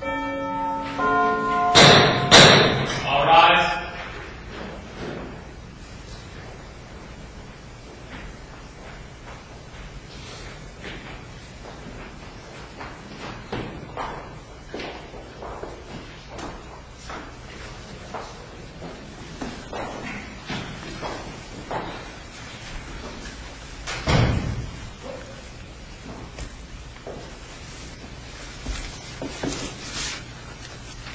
All rise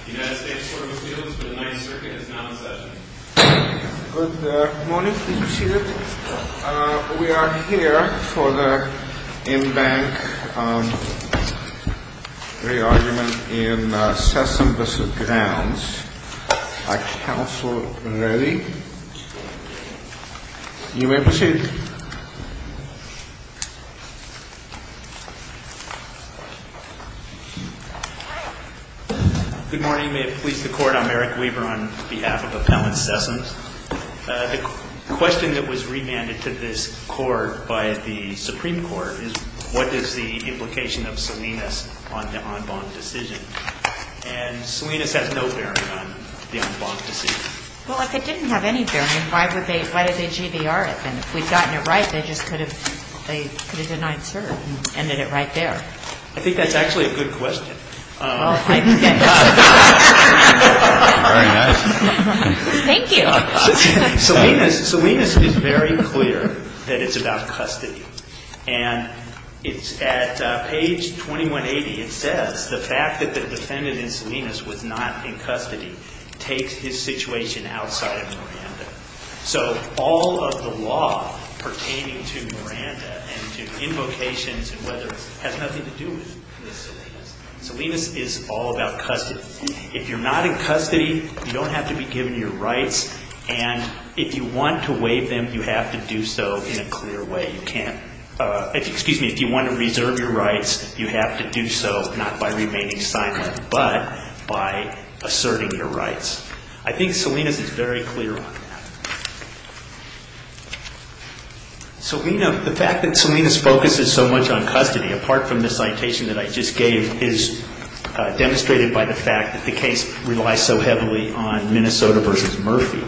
United States Court of Appeals, the Ninth Circuit is now in session. Good morning, please be seated. We are here for the in-bank re-argument in Sessom v. Grounds. Is counsel ready? You may proceed. Good morning. May it please the Court, I'm Eric Weaver on behalf of Appellant Sessom. The question that was remanded to this Court by the Supreme Court is, what is the implication of Salinas on the en banc decision? And Salinas has no bearing on the en banc decision. Well, if it didn't have any bearing, why did they GDR it then? If we'd gotten it right, they just could have denied cert and ended it right there. I think that's actually a good question. Very nice. Thank you. Salinas is very clear that it's about custody. And it's at page 2180, it says, the fact that the defendant in Salinas was not in custody takes his situation outside of Miranda. So all of the law pertaining to Miranda and to invocations and whether it has nothing to do with Salinas, Salinas is all about custody. If you're not in custody, you don't have to be given your rights. And if you want to waive them, you have to do so in a clear way. You can't, excuse me, if you want to reserve your rights, you have to do so not by remaining silent, but by asserting your rights. I think Salinas is very clear on that. The fact that Salinas focuses so much on custody, apart from the citation that I just gave, is demonstrated by the fact that the case relies so heavily on Minnesota v. Murphy.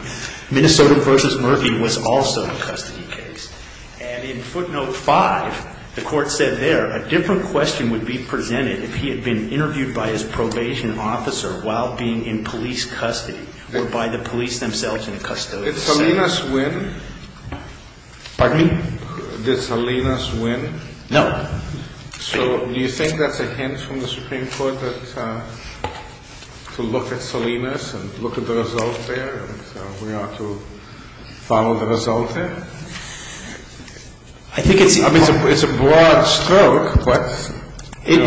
Minnesota v. Murphy was also a custody case. And in footnote 5, the court said there, a different question would be presented if he had been interviewed by his probation officer while being in police custody or by the police themselves in custody. Did Salinas win? Pardon me? Did Salinas win? No. So do you think that's a hint from the Supreme Court to look at Salinas and look at the result there and we ought to follow the result there? I think it's a broad stroke. What? It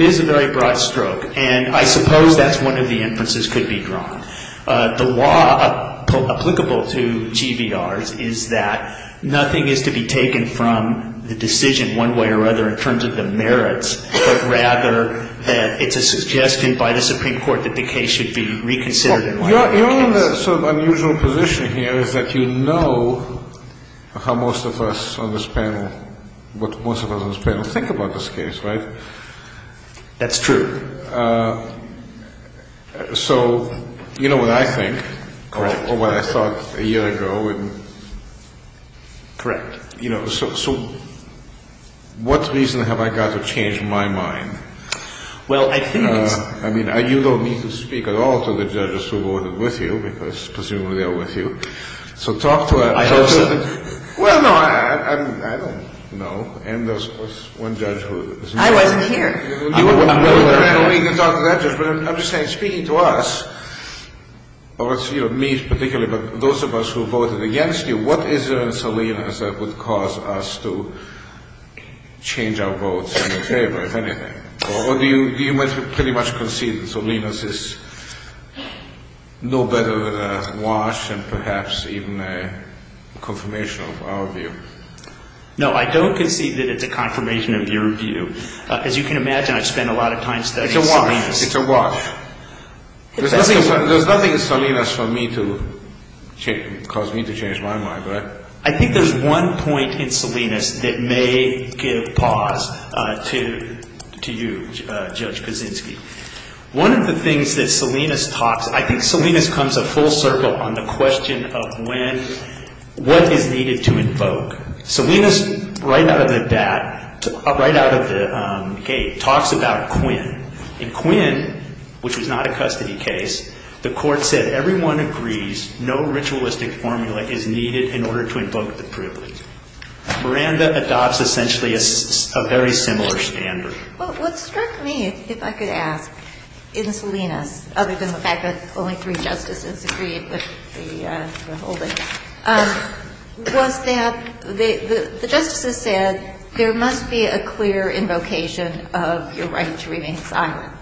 is a very broad stroke. And I suppose that's one of the inferences could be drawn. The law applicable to GVRs is that nothing is to be taken from the decision one way or other in terms of the merits, but rather that it's a suggestion by the Supreme Court that the case should be reconsidered. Your only sort of unusual position here is that you know how most of us on this panel, what most of us on this panel think about this case, right? That's true. So you know what I think. Correct. Or what I thought a year ago. Correct. You know, so what reason have I got to change my mind? Well, I think it's... I mean, you don't need to speak at all to the judges who voted with you because presumably they're with you. So talk to... I hope so. Well, no, I don't know. And there's one judge who... I wasn't here. I don't need to talk to that judge. But I'm just saying, speaking to us, or me particularly, but those of us who voted against you, what is there in Salinas that would cause us to change our votes in the favor, if anything? Or do you pretty much concede that Salinas is no better than Walsh and perhaps even a confirmation of our view? No, I don't concede that it's a confirmation of your view. As you can imagine, I spend a lot of time studying Salinas. It's a wash. There's nothing in Salinas for me to cause me to change my mind, right? I think there's one point in Salinas that may give pause to you, Judge Kaczynski. One of the things that Salinas talks... I think Salinas comes a full circle on the question of when, what is needed to invoke. Salinas, right out of the gate, talks about Quinn. In Quinn, which was not a custody case, the court said, Everyone agrees no ritualistic formula is needed in order to invoke the privilege. Miranda adopts essentially a very similar standard. Well, what struck me, if I could ask, in Salinas, other than the fact that only three justices agreed with the holding, was that the justices said there must be a clear invocation of your right to remain silent.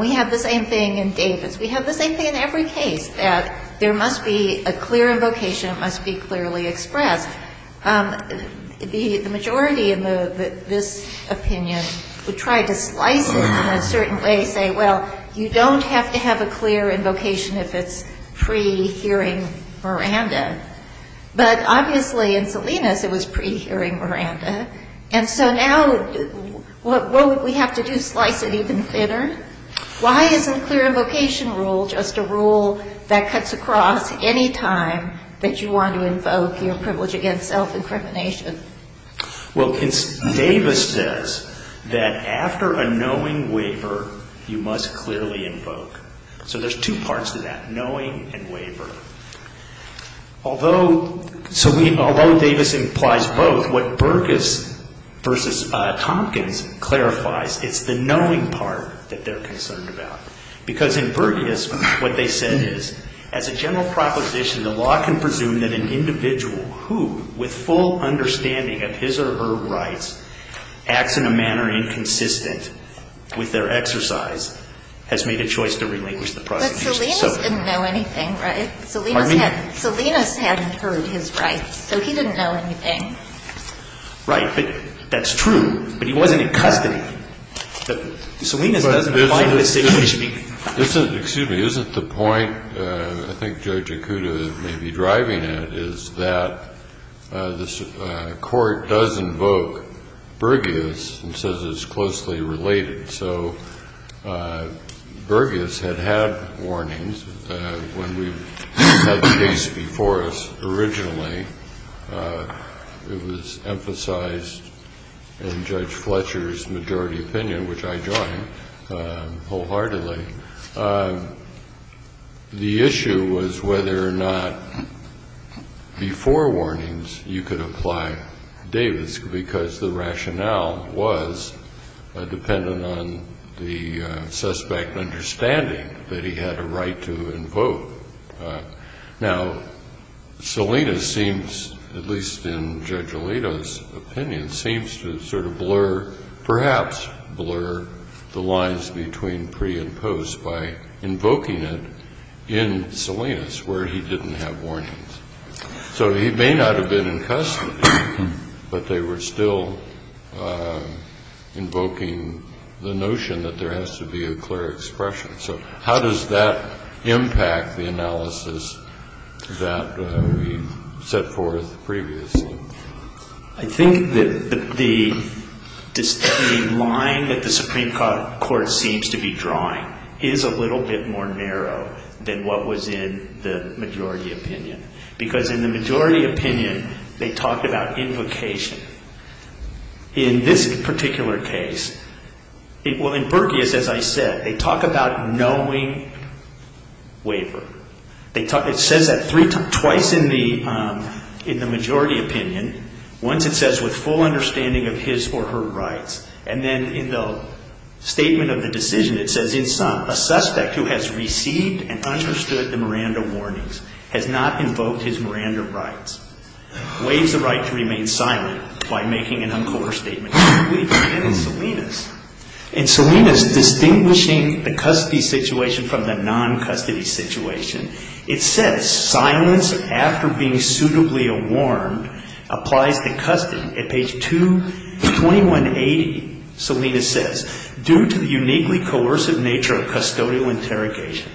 We have the same thing in Davis. We have the same thing in every case, that there must be a clear invocation. It must be clearly expressed. The majority in this opinion would try to slice it in a certain way, say, Well, you don't have to have a clear invocation if it's pre-hearing Miranda. But obviously in Salinas it was pre-hearing Miranda. And so now what would we have to do, slice it even thinner? Why isn't clear invocation rule just a rule that cuts across any time that you want to invoke your privilege against self-incrimination? Well, Davis says that after a knowing waiver, you must clearly invoke. So there's two parts to that, knowing and waiver. Although Davis implies both, what Burgess v. Tompkins clarifies, it's the knowing part that they're concerned about. Because in Burgess, what they said is, As a general proposition, the law can presume that an individual who, with full understanding of his or her rights, acts in a manner inconsistent with their exercise, has made a choice to relinquish the prosecution. But Salinas didn't know anything, right? Salinas hadn't heard his rights, so he didn't know anything. Right. But that's true. But he wasn't in custody. Salinas doesn't apply to the situation. Excuse me. Excuse me. Isn't the point, I think Judge Okuda may be driving it, is that the court does invoke Burgess and says it's closely related. So Burgess had had warnings when we had the case before us originally. It was emphasized in Judge Fletcher's majority opinion, which I joined wholeheartedly. The issue was whether or not before warnings you could apply Davis, because the rationale was dependent on the suspect understanding that he had a right to invoke. Now, Salinas seems, at least in Judge Alito's opinion, seems to sort of blur, perhaps blur, the lines between pre and post by invoking it in Salinas, where he didn't have warnings. So he may not have been in custody, but they were still invoking the notion that there has to be a clear expression. So how does that impact the analysis that we set forth previously? I think that the line that the Supreme Court seems to be drawing is a little bit more narrow than what was in the majority opinion, because in the majority opinion they talked about invocation. In this particular case, well, in Burgess, as I said, they talk about knowing waiver. It says that twice in the majority opinion. Once it says, with full understanding of his or her rights, and then in the statement of the decision it says, in sum, a suspect who has received and understood the Miranda warnings has not invoked his Miranda rights, waives the right to remain silent by making an uncoordinated statement. In Salinas, distinguishing the custody situation from the non-custody situation, it says silence after being suitably warned applies to custody. At page 2180, Salinas says, due to the uniquely coercive nature of custodial interrogation,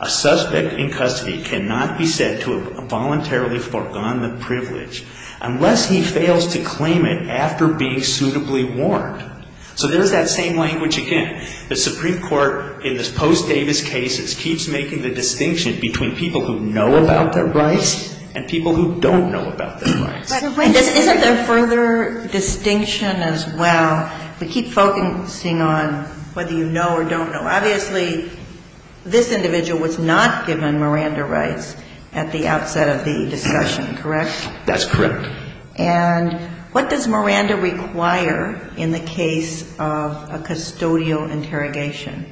a suspect in custody cannot be said to have voluntarily forgone the privilege unless he fails to claim it after being suitably warned. So there's that same language again. The Supreme Court, in the post-Davis cases, keeps making the distinction between people who know about their rights and people who don't know about their rights. But isn't there further distinction as well? We keep focusing on whether you know or don't know. Obviously, this individual was not given Miranda rights at the outset of the discussion, correct? That's correct. And what does Miranda require in the case of a custodial interrogation?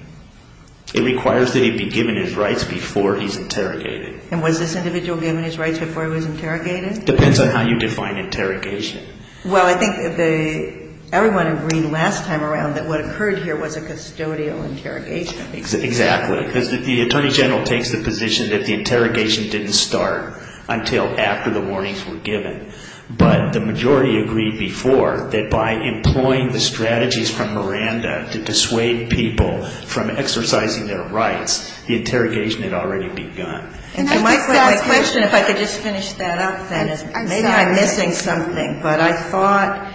It requires that he be given his rights before he's interrogated. And was this individual given his rights before he was interrogated? Depends on how you define interrogation. Well, I think everyone agreed last time around that what occurred here was a custodial interrogation. Exactly, because the Attorney General takes the position that the interrogation didn't start until after the warnings were given. But the majority agreed before that by employing the strategies from Miranda to dissuade people from exercising their rights, the interrogation had already begun. My question, if I could just finish that up then, is maybe I'm missing something, but I thought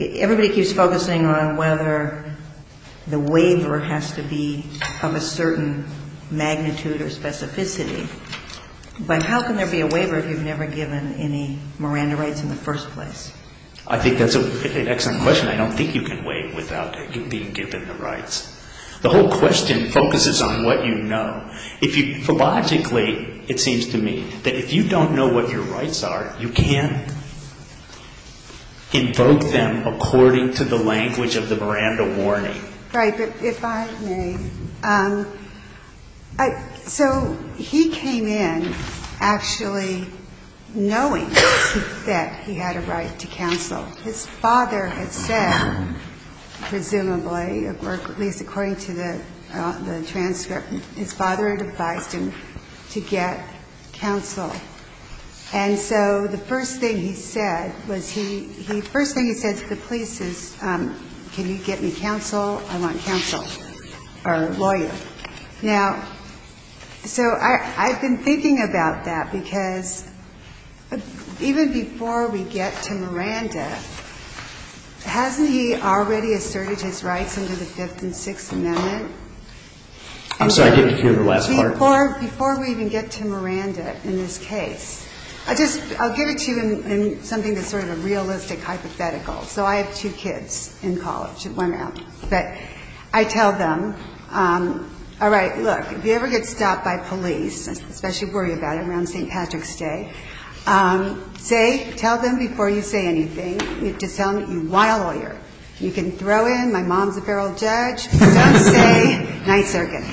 everybody keeps focusing on whether the waiver has to be of a certain magnitude or specificity. But how can there be a waiver if you've never given any Miranda rights in the first place? I think that's an excellent question. I don't think you can waive without being given the rights. The whole question focuses on what you know. If you philologically, it seems to me, that if you don't know what your rights are, you can't invoke them according to the language of the Miranda warning. Right. But if I may, so he came in actually knowing that he had a right to counsel. His father had said, presumably, or at least according to the transcript, his father had advised him to get counsel. And so the first thing he said was he – the first thing he said to the police is can you get me counsel, I want counsel or lawyer. Now, so I've been thinking about that because even before we get to Miranda, hasn't he already asserted his rights under the Fifth and Sixth Amendment? I'm sorry, I didn't hear the last part. Before we even get to Miranda in this case, I'll give it to you in something that's sort of a realistic hypothetical. So I have two kids in college at one hour. But I tell them, all right, look, if you ever get stopped by police, especially worry about it around St. Patrick's Day, say, tell them before you say anything, just tell them you want a lawyer. You can throw in my mom's a feral judge. Don't say Ninth Circuit.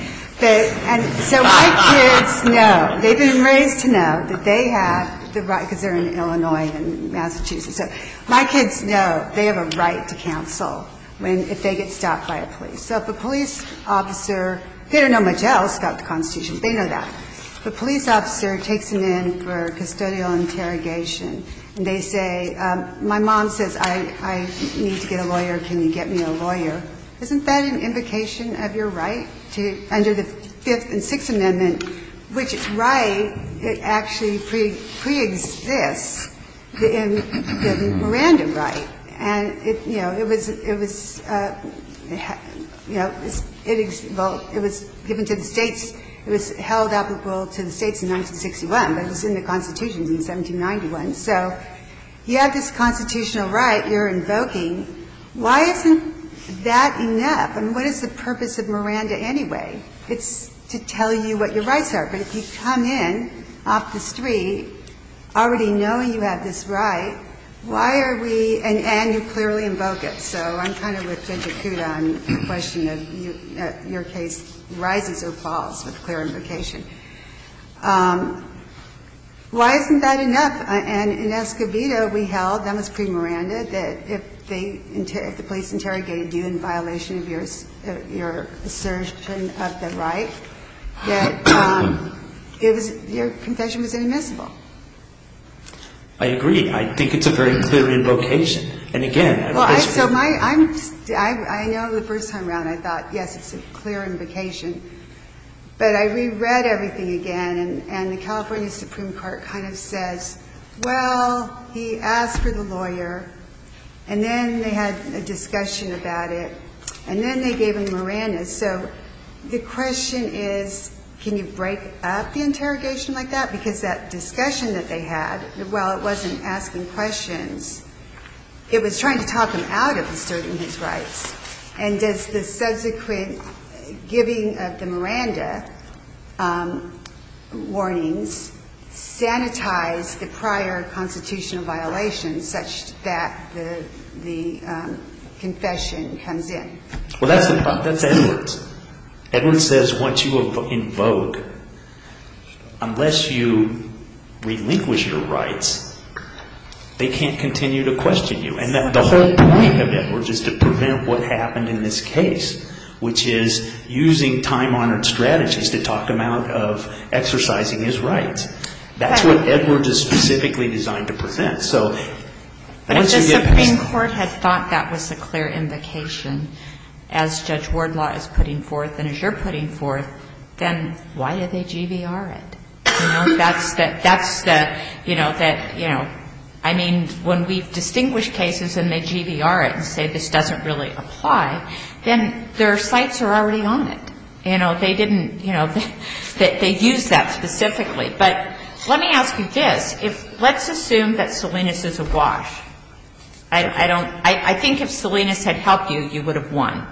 And so my kids know, they've been raised to know that they have the right because they're in Illinois and Massachusetts. So my kids know they have a right to counsel if they get stopped by a police. So if a police officer, they don't know much else about the Constitution. They know that. If a police officer takes them in for custodial interrogation and they say, my mom says I need to get a lawyer, can you get me a lawyer, isn't that an invocation of your right under the Fifth and Sixth Amendment, which is a right that actually preexists the Miranda right. And it was given to the states. It was held applicable to the states in 1961. But it was in the Constitution in 1791. So you have this constitutional right you're invoking. Why isn't that enough? And what is the purpose of Miranda anyway? It's to tell you what your rights are. But if you come in off the street already knowing you have this right, why are we and you clearly invoke it. So I'm kind of with Judge Acuda on the question of your case rises or falls with clear invocation. Why isn't that enough? And in Escobedo we held, that was pre-Miranda, that if the police interrogated you in violation of your assertion of the right, that your confession was inadmissible. I agree. I think it's a very clear invocation. And, again, this was. I know the first time around I thought, yes, it's a clear invocation. But I reread everything again. And the California Supreme Court kind of says, well, he asked for the lawyer. And then they had a discussion about it. And then they gave him Miranda. So the question is, can you break up the interrogation like that? Because that discussion that they had, while it wasn't asking questions, it was trying to talk him out of asserting his rights. And does the subsequent giving of the Miranda warnings sanitize the prior constitutional violations such that the confession comes in? Well, that's Edwards. Edwards says, once you invoke, unless you relinquish your rights, they can't continue to question you. And the whole point of Edwards is to prevent what happened in this case, which is using time-honored strategies to talk him out of exercising his rights. That's what Edwards is specifically designed to prevent. So once you get past that. But if the Supreme Court had thought that was a clear invocation, as Judge Wardlaw is putting forth and as you're putting forth, then why did they GVR it? You know, that's the, you know, that, you know, I mean, when we've distinguished cases and they GVR it and say this doesn't really apply, then their sights are already on it. You know, they didn't, you know, they used that specifically. But let me ask you this. If, let's assume that Salinas is awash. I don't, I think if Salinas had helped you, you would have won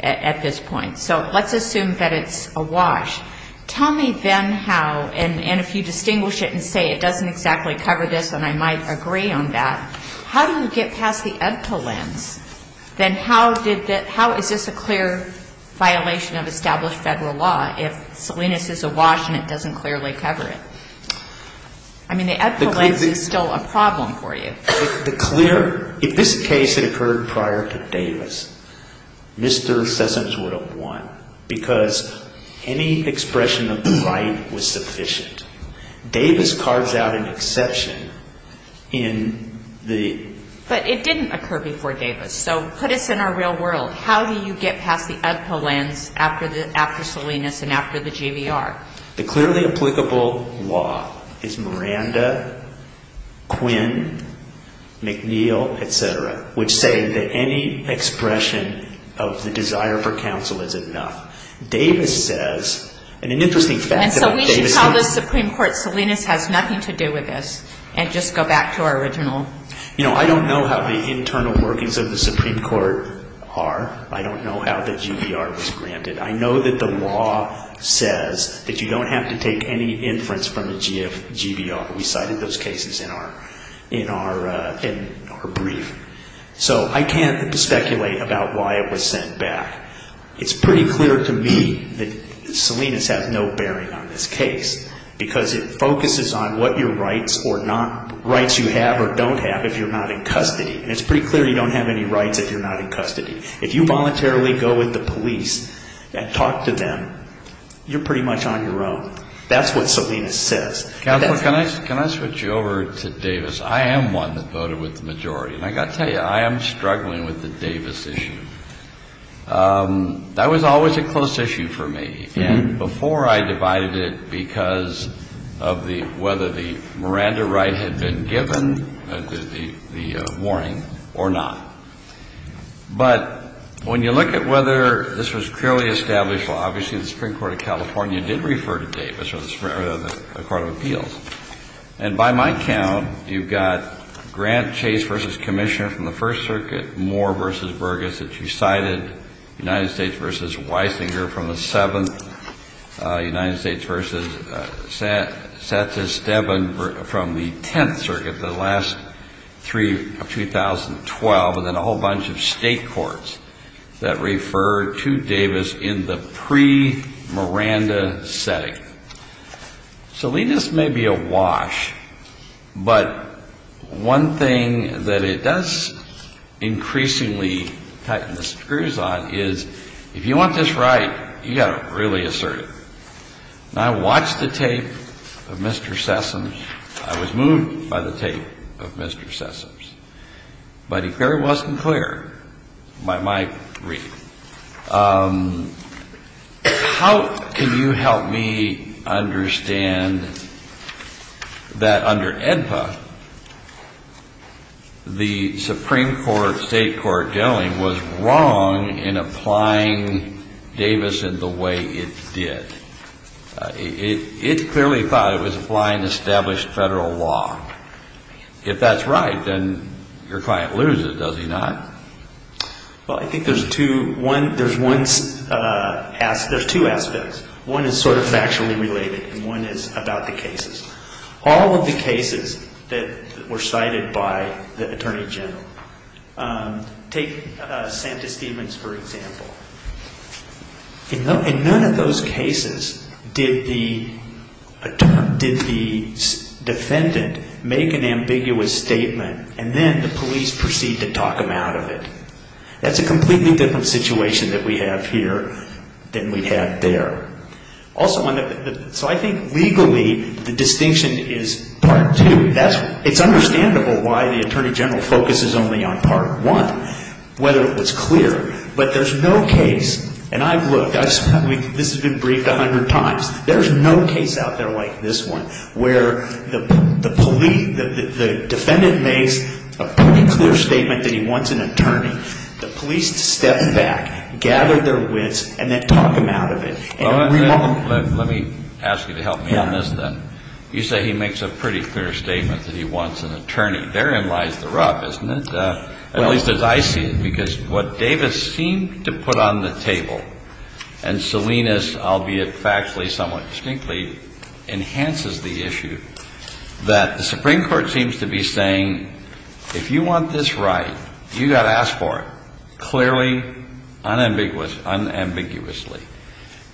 at this point. So let's assume that it's awash. Tell me then how, and if you distinguish it and say it doesn't exactly cover this and I might agree on that, how do you get past the EDPA lens? Then how is this a clear violation of established federal law if Salinas is awash and it doesn't clearly cover it? I mean, the EDPA lens is still a problem for you. The clear, if this case had occurred prior to Davis, Mr. Sessoms would have won because any expression of the right was sufficient. Davis cards out an exception in the... But it didn't occur before Davis. So put us in our real world. How do you get past the EDPA lens after Salinas and after the GVR? The clearly applicable law is Miranda, Quinn, McNeil, et cetera, which say that any expression of the desire for counsel is enough. Davis says, and an interesting fact about Davis... And so we should tell the Supreme Court Salinas has nothing to do with this and just go back to our original... You know, I don't know how the internal workings of the Supreme Court are. I don't know how the GVR was granted. I know that the law says that you don't have to take any inference from the GVR. We cited those cases in our brief. So I can't speculate about why it was sent back. It's pretty clear to me that Salinas has no bearing on this case because it focuses on what your rights or not... Rights you have or don't have if you're not in custody. And it's pretty clear you don't have any rights if you're not in custody. If you voluntarily go with the police and talk to them, you're pretty much on your own. That's what Salinas says. Counselor, can I switch you over to Davis? I am one that voted with the majority. And I've got to tell you, I am struggling with the Davis issue. That was always a close issue for me. And before I divided it because of whether the Miranda right had been given the warning or not. But when you look at whether this was clearly established, well, obviously the Supreme Court of California did refer to Davis or the Supreme Court of Appeals. And by my count, you've got Grant Chase v. Commissioner from the First Circuit, Moore v. Burgess that you cited, United States v. Weisinger from the Seventh, United States v. Satchus-Devon from the Tenth Circuit, the last three of 2012, and then a whole bunch of state courts that referred to Davis in the pre-Miranda setting. Salinas may be awash. But one thing that it does increasingly tighten the screws on is if you want this right, you've got to really assert it. And I watched the tape of Mr. Sessoms. I was moved by the tape of Mr. Sessoms. But if it wasn't clear, my grief. How can you help me understand that under AEDPA, the Supreme Court, state court, generally was wrong in applying Davis in the way it did? It clearly thought it was applying established federal law. If that's right, then your client loses, does he not? Well, I think there's two aspects. One is sort of factually related, and one is about the cases. All of the cases that were cited by the Attorney General. Take Santa Stevens, for example. In none of those cases did the defendant make an ambiguous statement, and then the police proceed to talk him out of it. That's a completely different situation that we have here than we have there. So I think legally the distinction is part two. It's understandable why the Attorney General focuses only on part one, whether it was clear. But there's no case, and I've looked, this has been briefed a hundred times, there's no case out there like this one where the defendant makes a pretty clear statement that he wants an attorney. The police step back, gather their wits, and then talk him out of it. Let me ask you to help me on this then. You say he makes a pretty clear statement that he wants an attorney. Therein lies the rub, isn't it? At least as I see it. Because what Davis seemed to put on the table, and Salinas, albeit factually, somewhat distinctly, enhances the issue that the Supreme Court seems to be saying, if you want this right, you've got to ask for it, clearly, unambiguously.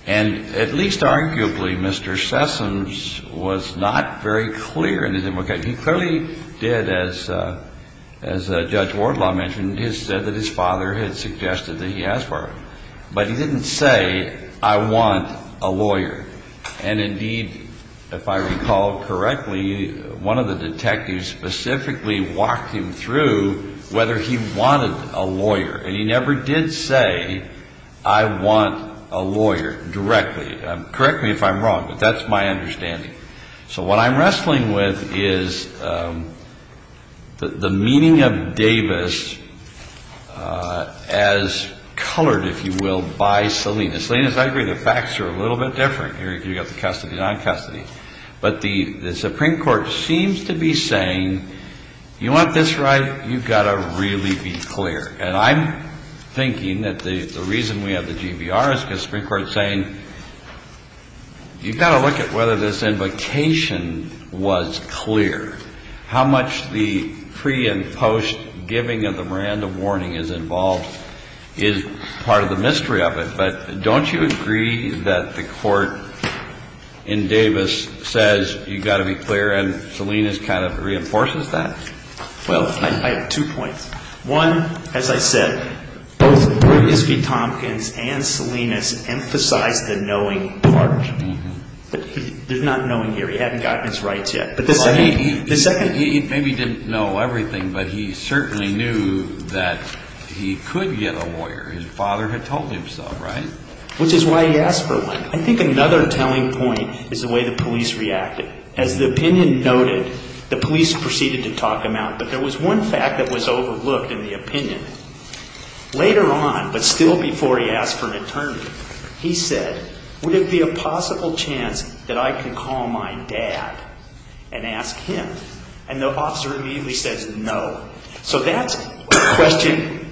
And at least arguably, Mr. Sessoms was not very clear in his implication. He clearly did, as Judge Wardlaw mentioned, he said that his father had suggested that he ask for it. But he didn't say, I want a lawyer. And indeed, if I recall correctly, one of the detectives specifically walked him through whether he wanted a lawyer. And he never did say, I want a lawyer, directly. Correct me if I'm wrong, but that's my understanding. So what I'm wrestling with is the meaning of Davis as colored, if you will, by Salinas. And Salinas, I agree, the facts are a little bit different. You've got the custody, non-custody. But the Supreme Court seems to be saying, you want this right, you've got to really be clear. And I'm thinking that the reason we have the GVR is because the Supreme Court is saying, you've got to look at whether this invocation was clear. How much the pre- and post-giving of the random warning is involved is part of the mystery of it. But don't you agree that the court in Davis says, you've got to be clear? And Salinas kind of reinforces that? Well, I have two points. One, as I said, both Iskey Tompkins and Salinas emphasized the knowing part. There's not knowing here. He hadn't gotten his rights yet. But the second— Well, he maybe didn't know everything, but he certainly knew that he could get a lawyer. His father had told him so, right? Which is why he asked for one. I think another telling point is the way the police reacted. As the opinion noted, the police proceeded to talk him out. But there was one fact that was overlooked in the opinion. Later on, but still before he asked for an attorney, he said, would it be a possible chance that I could call my dad and ask him? And the officer immediately says no. So that's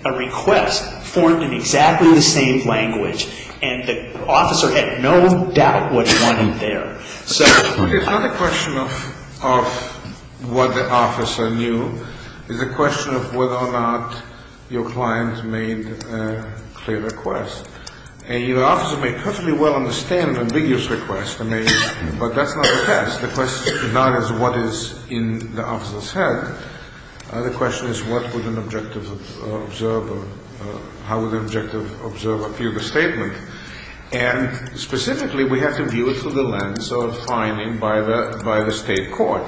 a request formed in exactly the same language. And the officer had no doubt what he wanted there. It's not a question of what the officer knew. It's a question of whether or not your client made a clear request. And your officer may perfectly well understand an ambiguous request. But that's not the test. The question is not what is in the officer's head. The question is what would an objective observer, how would an objective observer view the statement. And specifically, we have to view it through the lens of finding by the state court.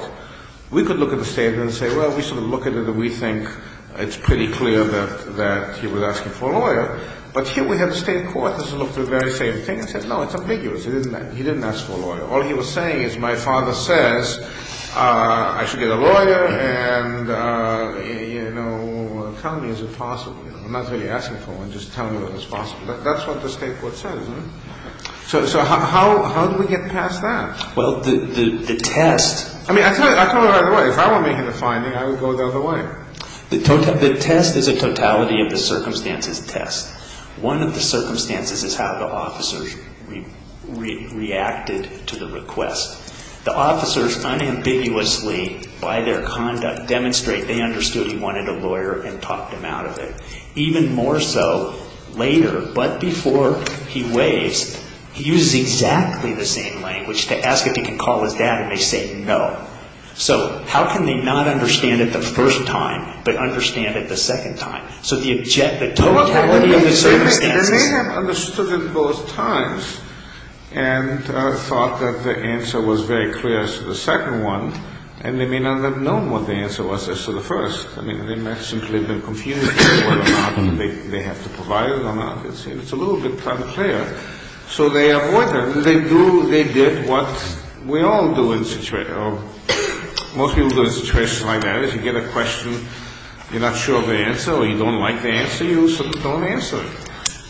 We could look at the statement and say, well, we sort of look at it and we think it's pretty clear that he was asking for a lawyer. But here we have the state court that's looked at the very same thing and said, no, it's ambiguous. He didn't ask for a lawyer. All he was saying is my father says I should get a lawyer and, you know, tell me is it possible. I'm not really asking for one. Just tell me if it's possible. That's what the state court says. So how do we get past that? Well, the test. I mean, I tell you right away, if I were making a finding, I would go the other way. The test is a totality of the circumstances test. One of the circumstances is how the officers reacted to the request. The officers unambiguously by their conduct demonstrate they understood he wanted a lawyer and talked him out of it. Even more so later, but before he waves, he uses exactly the same language to ask if he can call his dad and they say no. So how can they not understand it the first time but understand it the second time? They may have understood it both times and thought that the answer was very clear as to the second one, and they may not have known what the answer was as to the first. I mean, they may have simply been confused as to whether or not they have to provide it or not. It's a little bit unclear. So they avoided it. They did what we all do in situations. Most people do in situations like that. And if you have a question, you say, well, I'm not sure of the answer, and you get a question, you're not sure of the answer or you don't like the answer, you sort of don't answer it.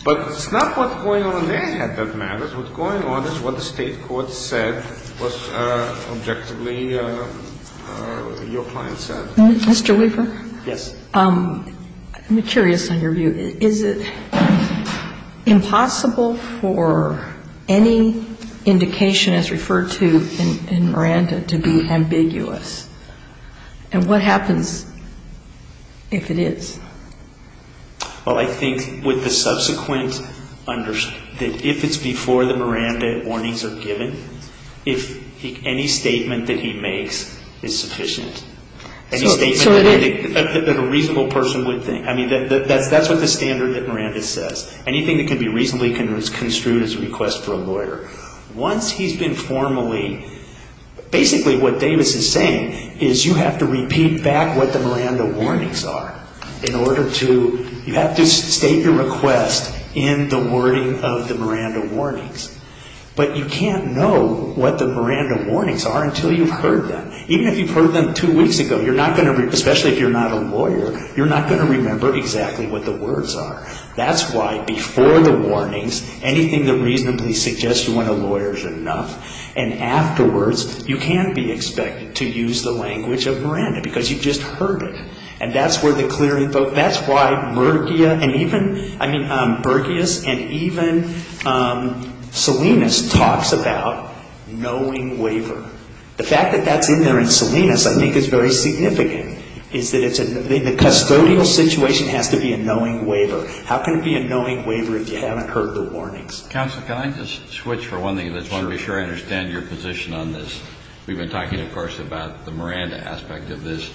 But it's not what's going on in their head that matters. What's going on is what the State court said was objectively your client said. Mr. Weaver? Yes. I'm curious on your view. Is it impossible for any indication, as referred to in Miranda, to be ambiguous? And what happens if it is? Well, I think with the subsequent understanding, if it's before the Miranda warnings are given, if any statement that he makes is sufficient, any statement that a reasonable person would think. I mean, that's what the standard that Miranda says. Anything that can be reasonably construed as a request for a lawyer. Once he's been formally, basically what Davis is saying is you have to repeat back what the Miranda warnings are in order to, you have to state your request in the wording of the Miranda warnings. But you can't know what the Miranda warnings are until you've heard them. Even if you've heard them two weeks ago, you're not going to, especially if you're not a lawyer, you're not going to remember exactly what the words are. That's why before the warnings, anything that reasonably suggests you want a lawyer is enough. And afterwards, you can't be expected to use the language of Miranda because you've just heard it. And that's where the clear info, that's why Murchia and even, I mean, Murchias and even Salinas talks about knowing waiver. The fact that that's in there in Salinas I think is very significant. Is that it's, the custodial situation has to be a knowing waiver. How can it be a knowing waiver if you haven't heard the warnings? Counsel, can I just switch for one thing? I just want to be sure I understand your position on this. We've been talking, of course, about the Miranda aspect of this.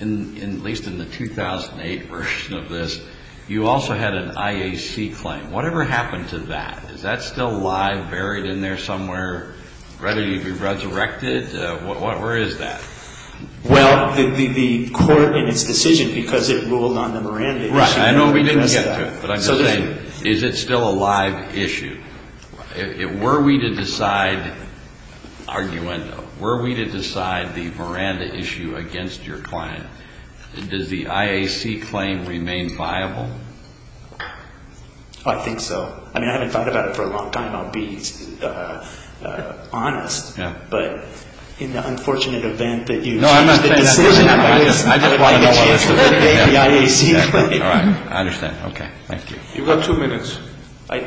At least in the 2008 version of this, you also had an IAC claim. Whatever happened to that? Is that still live, buried in there somewhere, ready to be resurrected? Where is that? Well, the court in its decision, because it ruled on the Miranda issue. I know we didn't get to it, but I'm just saying, is it still a live issue? Were we to decide, arguendo, were we to decide the Miranda issue against your client, does the IAC claim remain viable? I think so. I haven't thought about it for a long time. I'll be honest. But in the unfortunate event that you choose the decision, I don't want to take the IAC claim. I understand. Thank you. You've got two minutes. I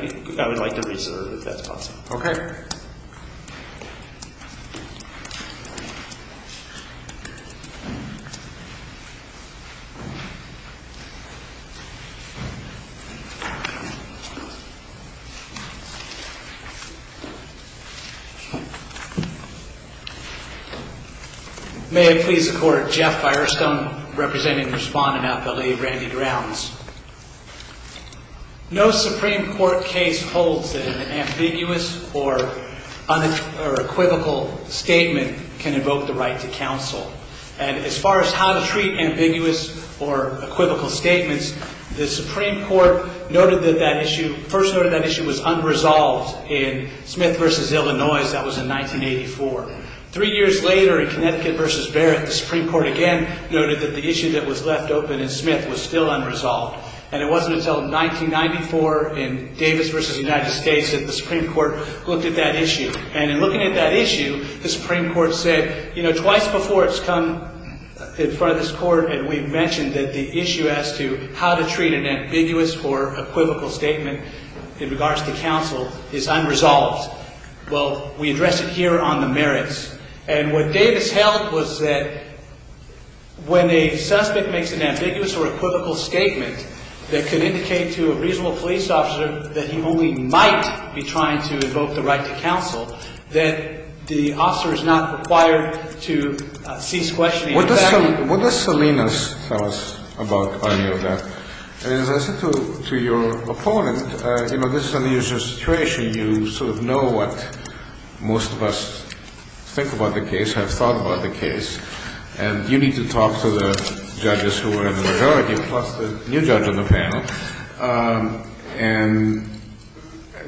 would like to reserve, if that's possible. Okay. May it please the Court. Jeff Firestone, representing the respondent at the Lake Randy Grounds. No Supreme Court case holds that an ambiguous or unequivocal statement can invoke the right to counsel. And as far as how to treat ambiguous or equivocal statements, the Supreme Court first noted that issue was unresolved in Smith v. Illinois. That was in 1984. Three years later, in Connecticut v. Barrett, the Supreme Court again noted that the issue that was left open in Smith was still unresolved. And it wasn't until 1994 in Davis v. United States that the Supreme Court looked at that issue. And in looking at that issue, the Supreme Court said, you know, twice before it's come in front of this Court, and we've mentioned that the issue as to how to treat an ambiguous or equivocal statement in regards to counsel is unresolved. Well, we address it here on the merits. And what Davis held was that when a suspect makes an ambiguous or equivocal statement that can indicate to a reasonable police officer that he only might be trying to invoke the right to counsel, that the officer is not required to cease questioning. What does Salinas tell us about any of that? And as I said to your opponent, you know, this is an unusual situation. You sort of know what most of us think about the case, have thought about the case. And you need to talk to the judges who are in the majority, plus the new judge on the panel. And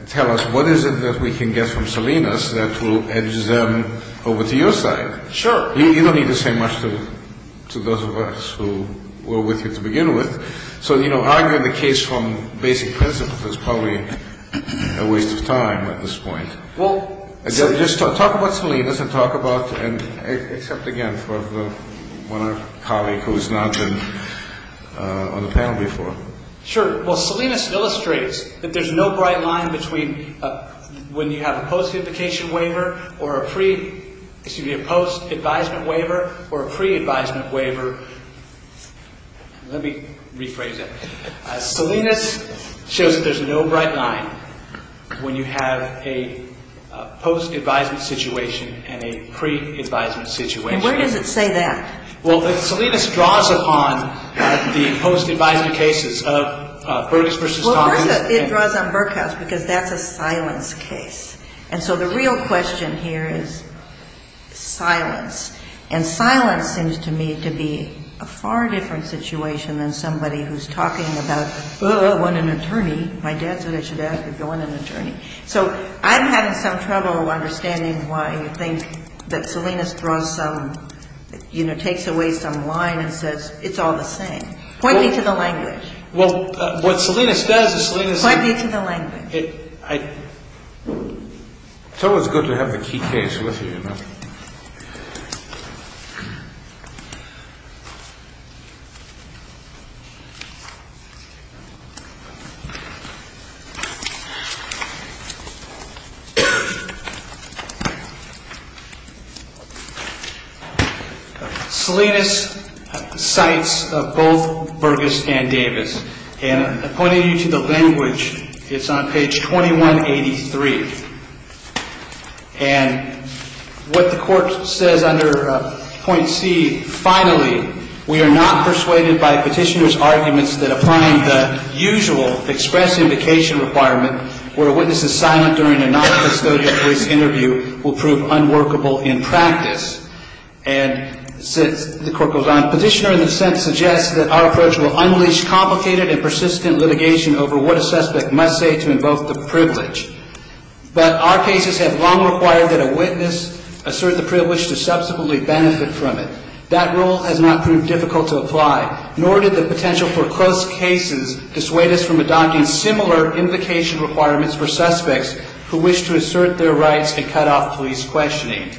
tell us what is it that we can get from Salinas that will edge them over to your side. Sure. You don't need to say much to those of us who were with you to begin with. So, you know, arguing the case from basic principles is probably a waste of time at this point. Just talk about Salinas and talk about, except again for one of our colleagues who has not been on the panel before. Sure. Well, Salinas illustrates that there's no bright line between when you have a post-advisement waiver or a pre-advisement waiver. Let me rephrase that. Salinas shows that there's no bright line when you have a post-advisement situation and a pre-advisement situation. And where does it say that? Well, Salinas draws upon the post-advisement cases of Burkus v. Thomas. Well, it draws on Burkus because that's a silence case. And so the real question here is silence. And silence seems to me to be a far different situation than somebody who's talking about, oh, I want an attorney. My dad said I should ask if you want an attorney. So I'm having some trouble understanding why you think that Salinas draws some, you know, takes away some line and says it's all the same. Point me to the language. Well, what Salinas does is Salinas – Point me to the language. I thought it was good to have the key case with you. Salinas cites both Burkus and Davis. And I'm pointing you to the language. It's on page 2183. And what the court says under point C, finally, we are not persuaded by petitioner's arguments that applying the usual express invocation requirement, where a witness is silent during a noncustodial case interview, will prove unworkable in practice. And the court goes on. Petitioner, in a sense, suggests that our approach will unleash complicated and persistent litigation over what a suspect must say to invoke the privilege. But our cases have long required that a witness assert the privilege to subsequently benefit from it. That rule has not proved difficult to apply. Nor did the potential for close cases dissuade us from adopting similar invocation requirements for suspects who wish to assert their rights and cut off police questioning.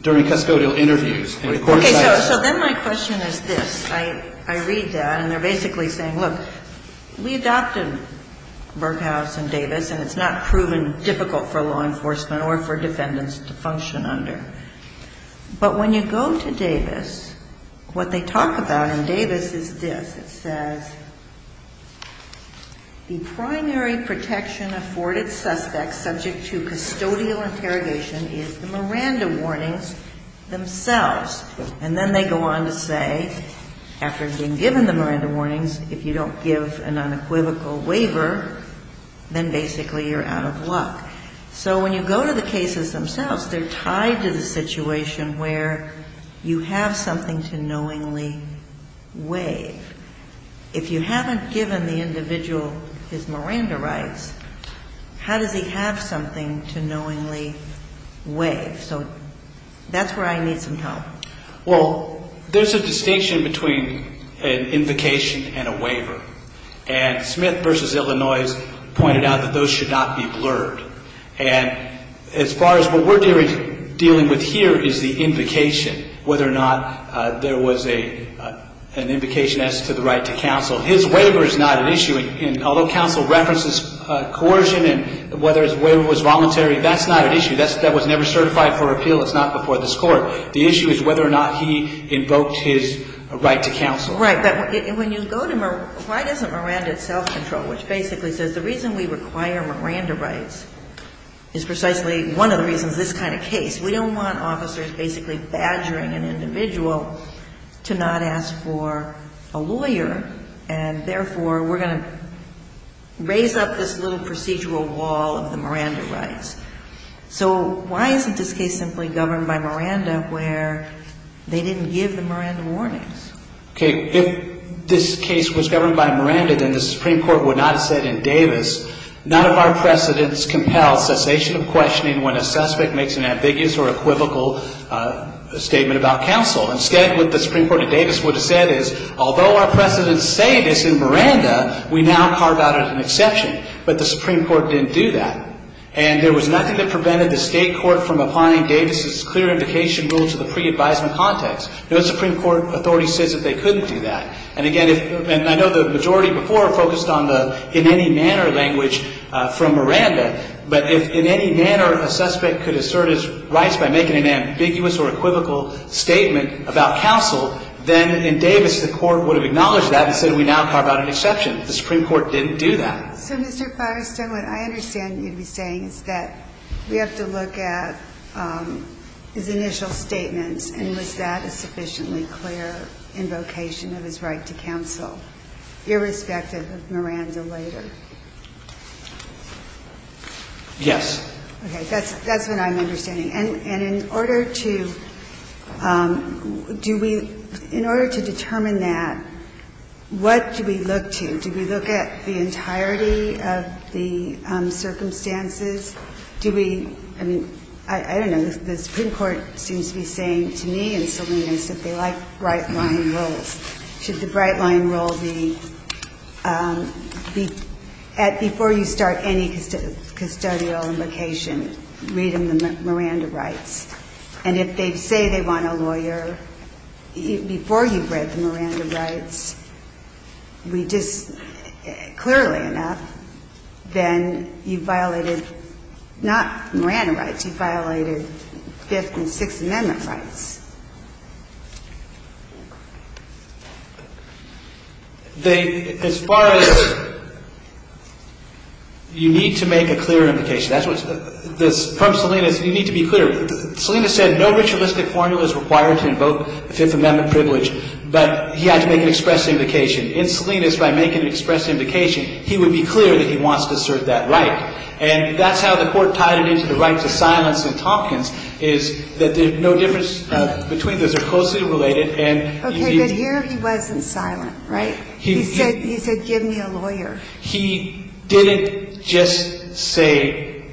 During custodial interviews. Okay. So then my question is this. I read that. And they're basically saying, look, we adopted Burkus and Davis, and it's not proven difficult for law enforcement or for defendants to function under. But when you go to Davis, what they talk about in Davis is this. It says the primary protection afforded suspects subject to custodial interrogation is the Miranda warnings themselves. And then they go on to say, after being given the Miranda warnings, if you don't give an unequivocal waiver, then basically you're out of luck. So when you go to the cases themselves, they're tied to the situation where you have something to knowingly waive. If you haven't given the individual his Miranda rights, how does he have something to knowingly waive? So that's where I need some help. Well, there's a distinction between an invocation and a waiver. And Smith v. Illinois pointed out that those should not be blurred. And as far as what we're dealing with here is the invocation, whether or not there was an invocation as to the right to counsel. His waiver is not an issue. And although counsel references coercion and whether his waiver was voluntary, that's not an issue. That was never certified for appeal. It's not before this Court. The issue is whether or not he invoked his right to counsel. Right. But when you go to Miranda, why doesn't Miranda itself control? Which basically says the reason we require Miranda rights is precisely one of the reasons this kind of case. We don't want officers basically badgering an individual to not ask for a lawyer. And therefore, we're going to raise up this little procedural wall of the Miranda rights. So why isn't this case simply governed by Miranda where they didn't give the Miranda warnings? Okay. If this case was governed by Miranda, then the Supreme Court would not have said in Davis, none of our precedents compel cessation of questioning when a suspect makes an ambiguous or equivocal statement about counsel. Instead, what the Supreme Court of Davis would have said is, although our precedents say this in Miranda, we now carve out an exception. But the Supreme Court didn't do that. And there was nothing that prevented the State Court from applying Davis's clear invocation rule to the pre-advisement context. No Supreme Court authority says that they couldn't do that. And, again, I know the majority before focused on the in any manner language from Miranda. But if in any manner a suspect could assert his rights by making an ambiguous or equivocal statement about counsel, then in Davis the Court would have acknowledged that and said we now carve out an exception. The Supreme Court didn't do that. So, Mr. Firestone, what I understand you to be saying is that we have to look at his initial statements, and was that a sufficiently clear invocation of his right to counsel, irrespective of Miranda later? Yes. Okay. That's what I'm understanding. And in order to do we – in order to determine that, what do we look to? Do we look at the entirety of the circumstances? Do we – I mean, I don't know. The Supreme Court seems to be saying to me and Salinas that they like bright-line rules. Should the bright-line rule be before you start any custodial invocation, read him the Miranda rights. And if they say they want a lawyer before you've read the Miranda rights, we just – clearly enough, then you've violated not Miranda rights. You've violated Fifth and Sixth Amendment rights. They – as far as you need to make a clear invocation, that's what this – from Salinas, you need to be clear. Salinas said no ritualistic formula is required to invoke the Fifth Amendment privilege, but he had to make an express invocation. In Salinas, by making an express invocation, he would be clear that he wants to serve that right. And that's how the Court tied it into the right to silence in Tompkins, is that there's no difference between those. They're closely related, and he – Okay. But here he wasn't silent, right? He said – he said, give me a lawyer. He didn't just say,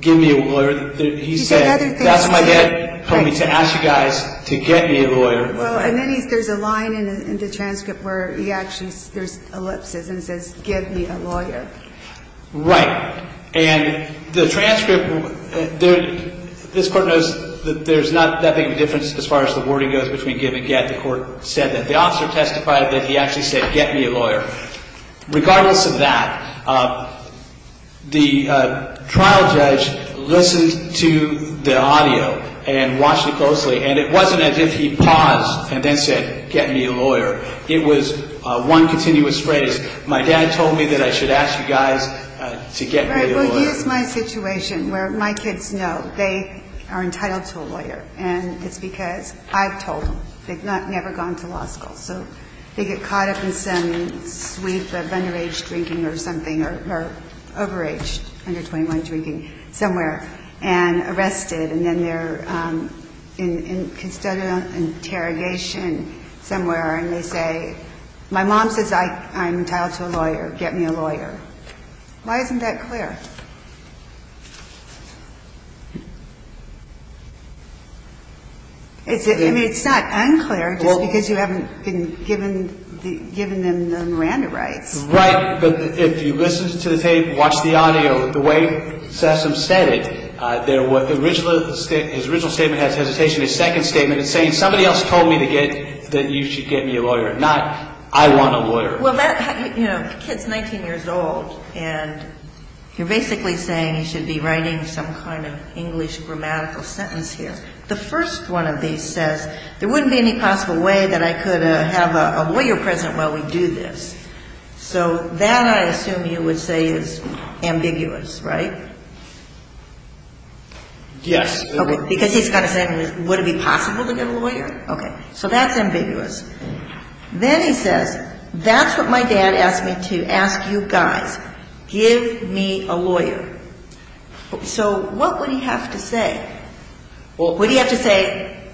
give me a lawyer. He said – He said other things. That's what my dad told me, to ask you guys to get me a lawyer. Well, and then he – there's a line in the transcript where he actually – there's ellipses, and it says, give me a lawyer. Right. And the transcript – this Court knows that there's not that big of a difference as far as the wording goes between give and get. The officer testified that he actually said, get me a lawyer. Regardless of that, the trial judge listened to the audio and watched it closely, and it wasn't as if he paused and then said, get me a lawyer. It was one continuous phrase. My dad told me that I should ask you guys to get me a lawyer. Right. Well, here's my situation where my kids know they are entitled to a lawyer, and it's because I've told them. They've never gone to law school, so they get caught up in some sweep of underage drinking or something, or overage, under 21 drinking somewhere, and arrested. And then they're in interrogation somewhere, and they say – my mom says I'm entitled to a lawyer. Get me a lawyer. Why isn't that clear? I mean, it's not unclear just because you haven't given them the Miranda rights. Right. But if you listen to the tape, watch the audio, the way Sessom said it, his original statement has hesitation. His second statement is saying somebody else told me to get – that you should get me a lawyer, not I want a lawyer. Well, the kid's 19 years old, and you're basically saying he should be writing some kind of English grammatical sentence here. The first one of these says, there wouldn't be any possible way that I could have a lawyer present while we do this. So that, I assume you would say, is ambiguous, right? Yes. Okay, because he's got to say, would it be possible to get a lawyer? Okay. So that's ambiguous. Then he says, that's what my dad asked me to ask you guys. Give me a lawyer. So what would he have to say? Would he have to say,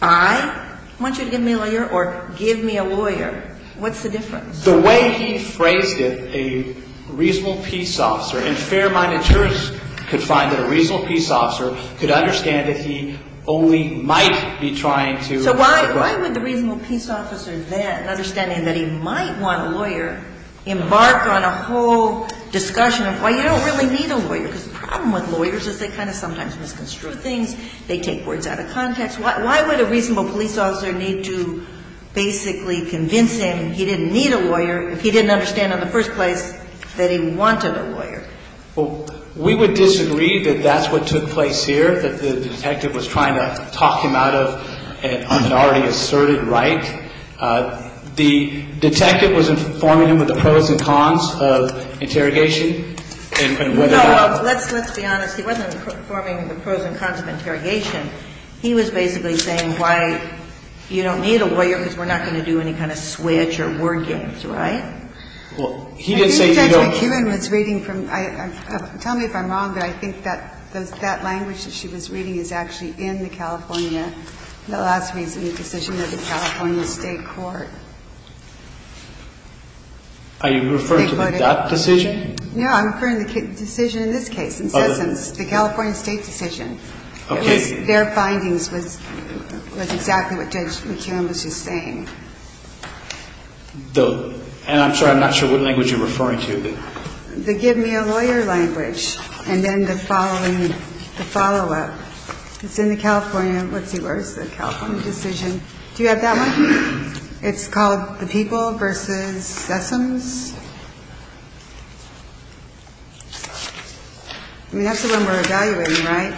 I want you to give me a lawyer or give me a lawyer? What's the difference? The way he phrased it, a reasonable peace officer in fair-minded terms could find that a reasonable peace officer could understand that he only might be trying to So why would the reasonable peace officer then, understanding that he might want a lawyer, embark on a whole discussion of why you don't really need a lawyer? Because the problem with lawyers is they kind of sometimes misconstrue things. They take words out of context. Why would a reasonable police officer need to basically convince him he didn't need a lawyer if he didn't understand in the first place that he wanted a lawyer? Well, we would disagree that that's what took place here, that the detective was trying to talk him out of an already asserted right. The detective was informing him of the pros and cons of interrogation and whether No, let's be honest. He wasn't informing him of the pros and cons of interrogation. He was basically saying why you don't need a lawyer because we're not going to do any kind of switch or word games, right? Well, he didn't say you don't I think that's what Kevin was reading from – tell me if I'm wrong, but I think that that language that she was reading is actually in the California – the last reasoning decision of the California State Court. Are you referring to that decision? No, I'm referring to the decision in this case, in essence, the California State decision. Okay. Their findings was exactly what Judge McKeown was just saying. And I'm sorry, I'm not sure what language you're referring to. The give me a lawyer language, and then the following – the follow-up. It's in the California – let's see, where is the California decision? Do you have that one? It's called the People v. Sessoms. I mean, that's the one we're evaluating, right?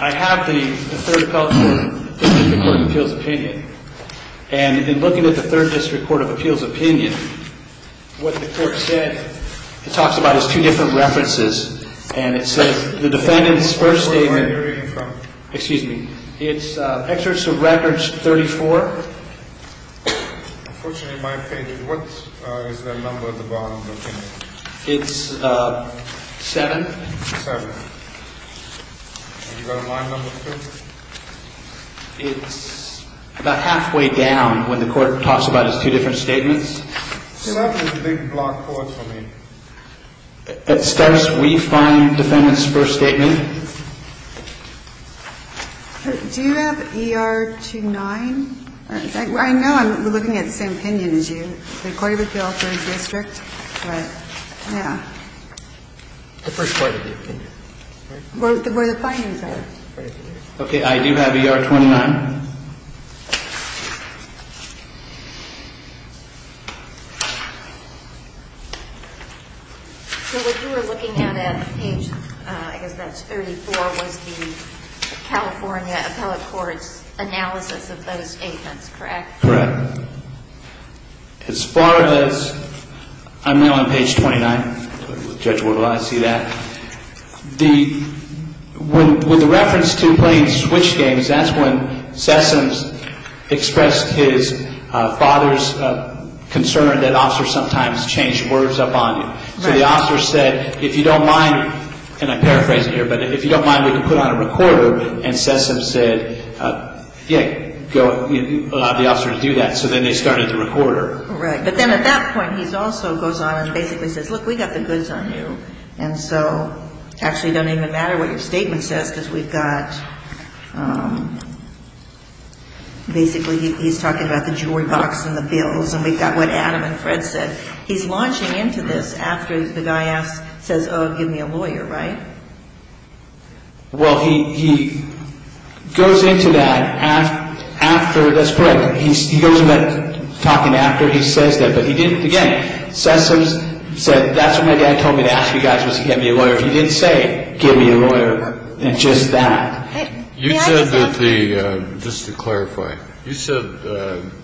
I have the third district court of appeals opinion. And in looking at the third district court of appeals opinion, what the court said it talks about is two different references. And it says the defendant's first statement – What court are you reading from? Excuse me. It's excerpts of records 34. Unfortunately, in my opinion, what is the number at the bottom of the opinion? It's seven. Seven. And you've got a line number two? It's about halfway down when the court talks about its two different statements. Seven is a big block for us, I mean. It says we find defendant's first statement. Do you have ER 29? I know I'm looking at the same opinion as you. The court of appeals, third district, but, yeah. The first court of the opinion. Where the findings are. Okay, I do have ER 29. So what you were looking at at page, I guess that's 34, was the California appellate court's analysis of those statements, correct? Correct. As far as – I'm now on page 29. Judge, will I see that? With the reference to playing switch games, that's when Sessoms expressed his father's concern that officers sometimes change words up on you. So the officer said, if you don't mind, and I'm paraphrasing here, but if you don't mind, we can put on a recorder. And Sessoms said, yeah, allow the officer to do that. So then they started the recorder. Right. But then at that point, he also goes on and basically says, look, we got the goods on you. And so actually it doesn't even matter what your statement says because we've got – basically he's talking about the jewelry box and the bills. And we've got what Adam and Fred said. He's launching into this after the guy says, oh, give me a lawyer, right? Well, he goes into that after – that's correct. He goes into that talking after he says that. But he didn't – again, Sessoms said, that's what my dad told me to ask you guys was to give me a lawyer. He didn't say give me a lawyer and just that. You said that the – just to clarify, you said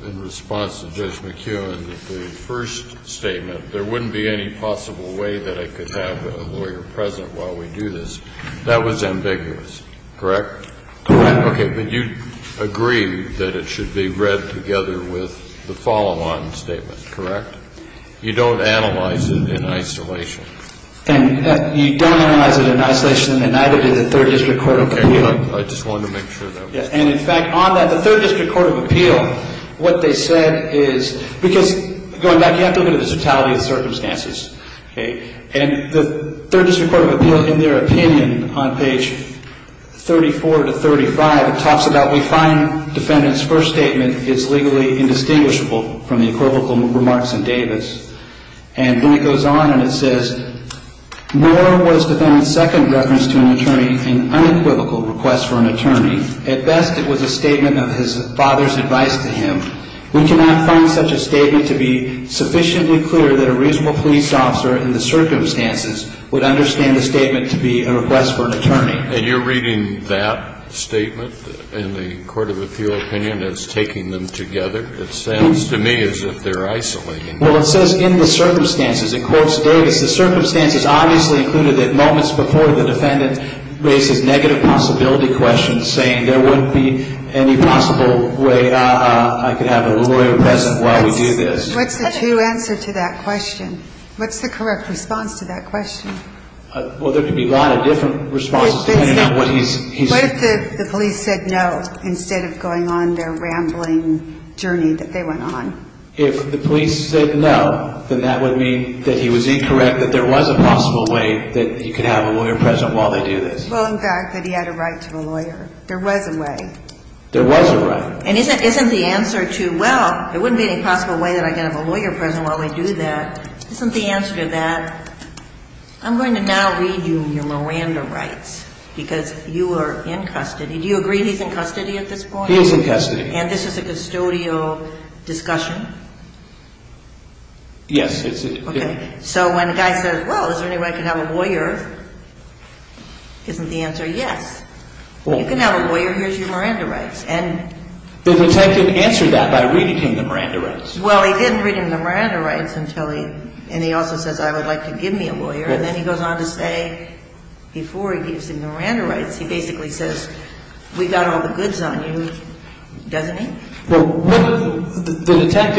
in response to Judge McKeown that the first statement, there wouldn't be any possible way that I could have a lawyer present while we do this. That was ambiguous, correct? Correct. Okay. But you agree that it should be read together with the follow-on statement, correct? You don't analyze it in isolation. You don't analyze it in isolation and neither did the Third District Court of Appeal. Okay. I just wanted to make sure that was – And, in fact, on that, the Third District Court of Appeal, what they said is – because going back, you have to look at the totality of the circumstances. Okay. And the Third District Court of Appeal, in their opinion, on page 34 to 35, it talks about we find defendant's first statement is legally indistinguishable from the equivocal remarks in Davis. And then it goes on and it says, nor was defendant's second reference to an attorney an unequivocal request for an attorney. At best, it was a statement of his father's advice to him. We cannot find such a statement to be sufficiently clear that a reasonable police officer, in the circumstances, would understand the statement to be a request for an attorney. And you're reading that statement in the Court of Appeal opinion as taking them together? It sounds to me as if they're isolating. Well, it says in the circumstances. It quotes Davis, the circumstances obviously included that moments before the defendant raises negative possibility questions, saying there wouldn't be any possible way I could have a lawyer present while we do this. What's the true answer to that question? What's the correct response to that question? Well, there could be a lot of different responses depending on what he's – What if the police said no instead of going on their rambling journey that they went on? If the police said no, then that would mean that he was incorrect, that there was a possible way that he could have a lawyer present while they do this. Well, in fact, that he had a right to a lawyer. There was a way. There was a right. And isn't the answer to, well, there wouldn't be any possible way that I could have a lawyer present while we do that, isn't the answer to that, I'm going to now read you your Miranda rights because you are in custody. Do you agree he's in custody at this point? He is in custody. And this is a custodial discussion? Yes. Okay. So when a guy says, well, is there any way I can have a lawyer, isn't the answer yes? You can have a lawyer. Here's your Miranda rights. The detective answered that by reading him the Miranda rights. Well, he didn't read him the Miranda rights until he – and he also says, I would like to give me a lawyer. And then he goes on to say, before he gives him the Miranda rights, he basically says, we've got all the goods on you, doesn't he? In fact,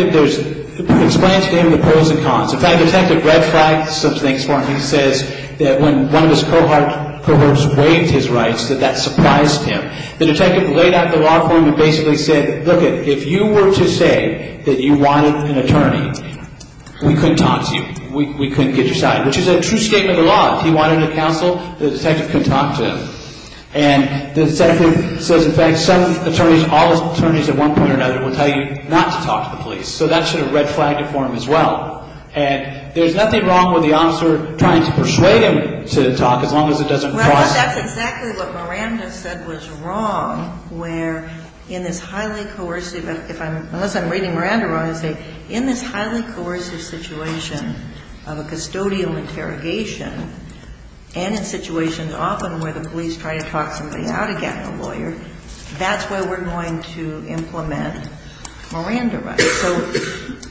the detective red-flagged some things for him. He says that when one of his cohorts waived his rights, that that surprised him. The detective laid out the law for him and basically said, lookit, if you were to say that you wanted an attorney, we couldn't talk to you. We couldn't get your side, which is a true statement of the law. If he wanted a counsel, the detective couldn't talk to him. And the detective says, in fact, some attorneys, all attorneys at one point or another, will tell you not to talk to the police. So that should have red-flagged it for him as well. And there's nothing wrong with the officer trying to persuade him to talk as long as it doesn't cross. Well, that's exactly what Miranda said was wrong, where in this highly coercive – unless I'm reading Miranda wrong, I say in this highly coercive situation of a custodial interrogation and in situations often where the police try to talk somebody out of getting a lawyer, that's where we're going to implement Miranda rights. So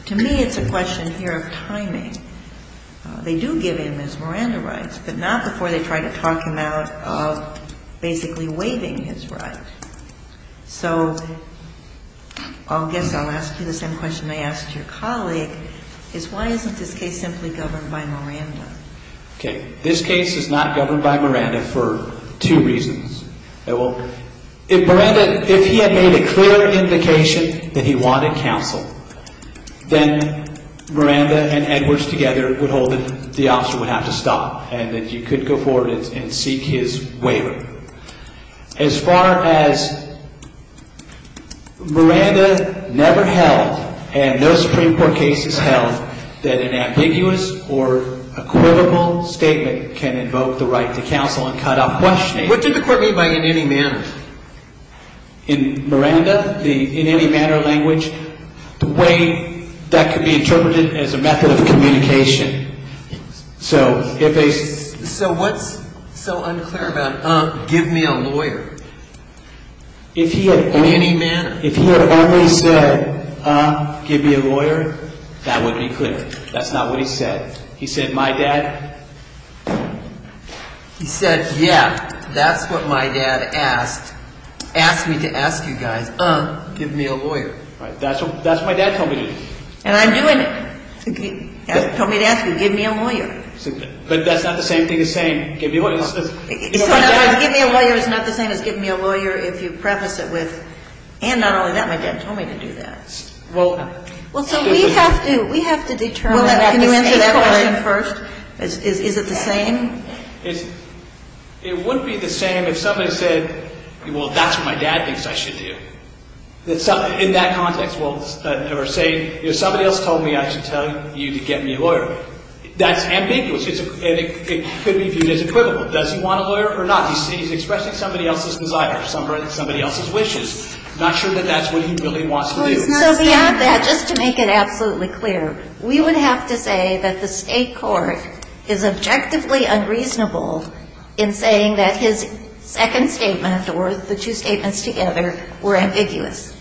to me it's a question here of timing. They do give him his Miranda rights, but not before they try to talk him out of basically waiving his right. So I guess I'll ask you the same question I asked your colleague, is why isn't this case simply governed by Miranda? Okay. This case is not governed by Miranda for two reasons. If Miranda – if he had made a clear indication that he wanted counsel, then Miranda and Edwards together would hold him – the officer would have to stop and then you could go forward and seek his waiver. As far as Miranda never held and no Supreme Court case has held that an ambiguous or equivocal statement can invoke the right to counsel and cut off questioning – What did the court mean by in any manner? In Miranda, the in any manner language, the way that could be interpreted as a method of communication. So if a – So what's so unclear about, uh, give me a lawyer? If he had only – In any manner? If he had only said, uh, give me a lawyer, that would be clear. That's not what he said. He said, my dad – He said, yeah, that's what my dad asked. Asked me to ask you guys, uh, give me a lawyer. Right. That's what my dad told me to do. And I'm doing it. He told me to ask you, give me a lawyer. But that's not the same thing as saying, give me a lawyer. Give me a lawyer is not the same as give me a lawyer if you preface it with, and not only that, my dad told me to do that. Well – Well, so we have to – we have to determine – Can you answer that question first? Is it the same? It wouldn't be the same if somebody said, well, that's what my dad thinks I should do. In that context. Or say, if somebody else told me I should tell you to get me a lawyer. That's ambiguous. It could be viewed as equivocal. Does he want a lawyer or not? He's expressing somebody else's desire. Somebody else's wishes. Not sure that that's what he really wants to do. So we have that. Just to make it absolutely clear. We would have to say that the state court is objectively unreasonable in saying that his second statement, or the two statements together, were ambiguous.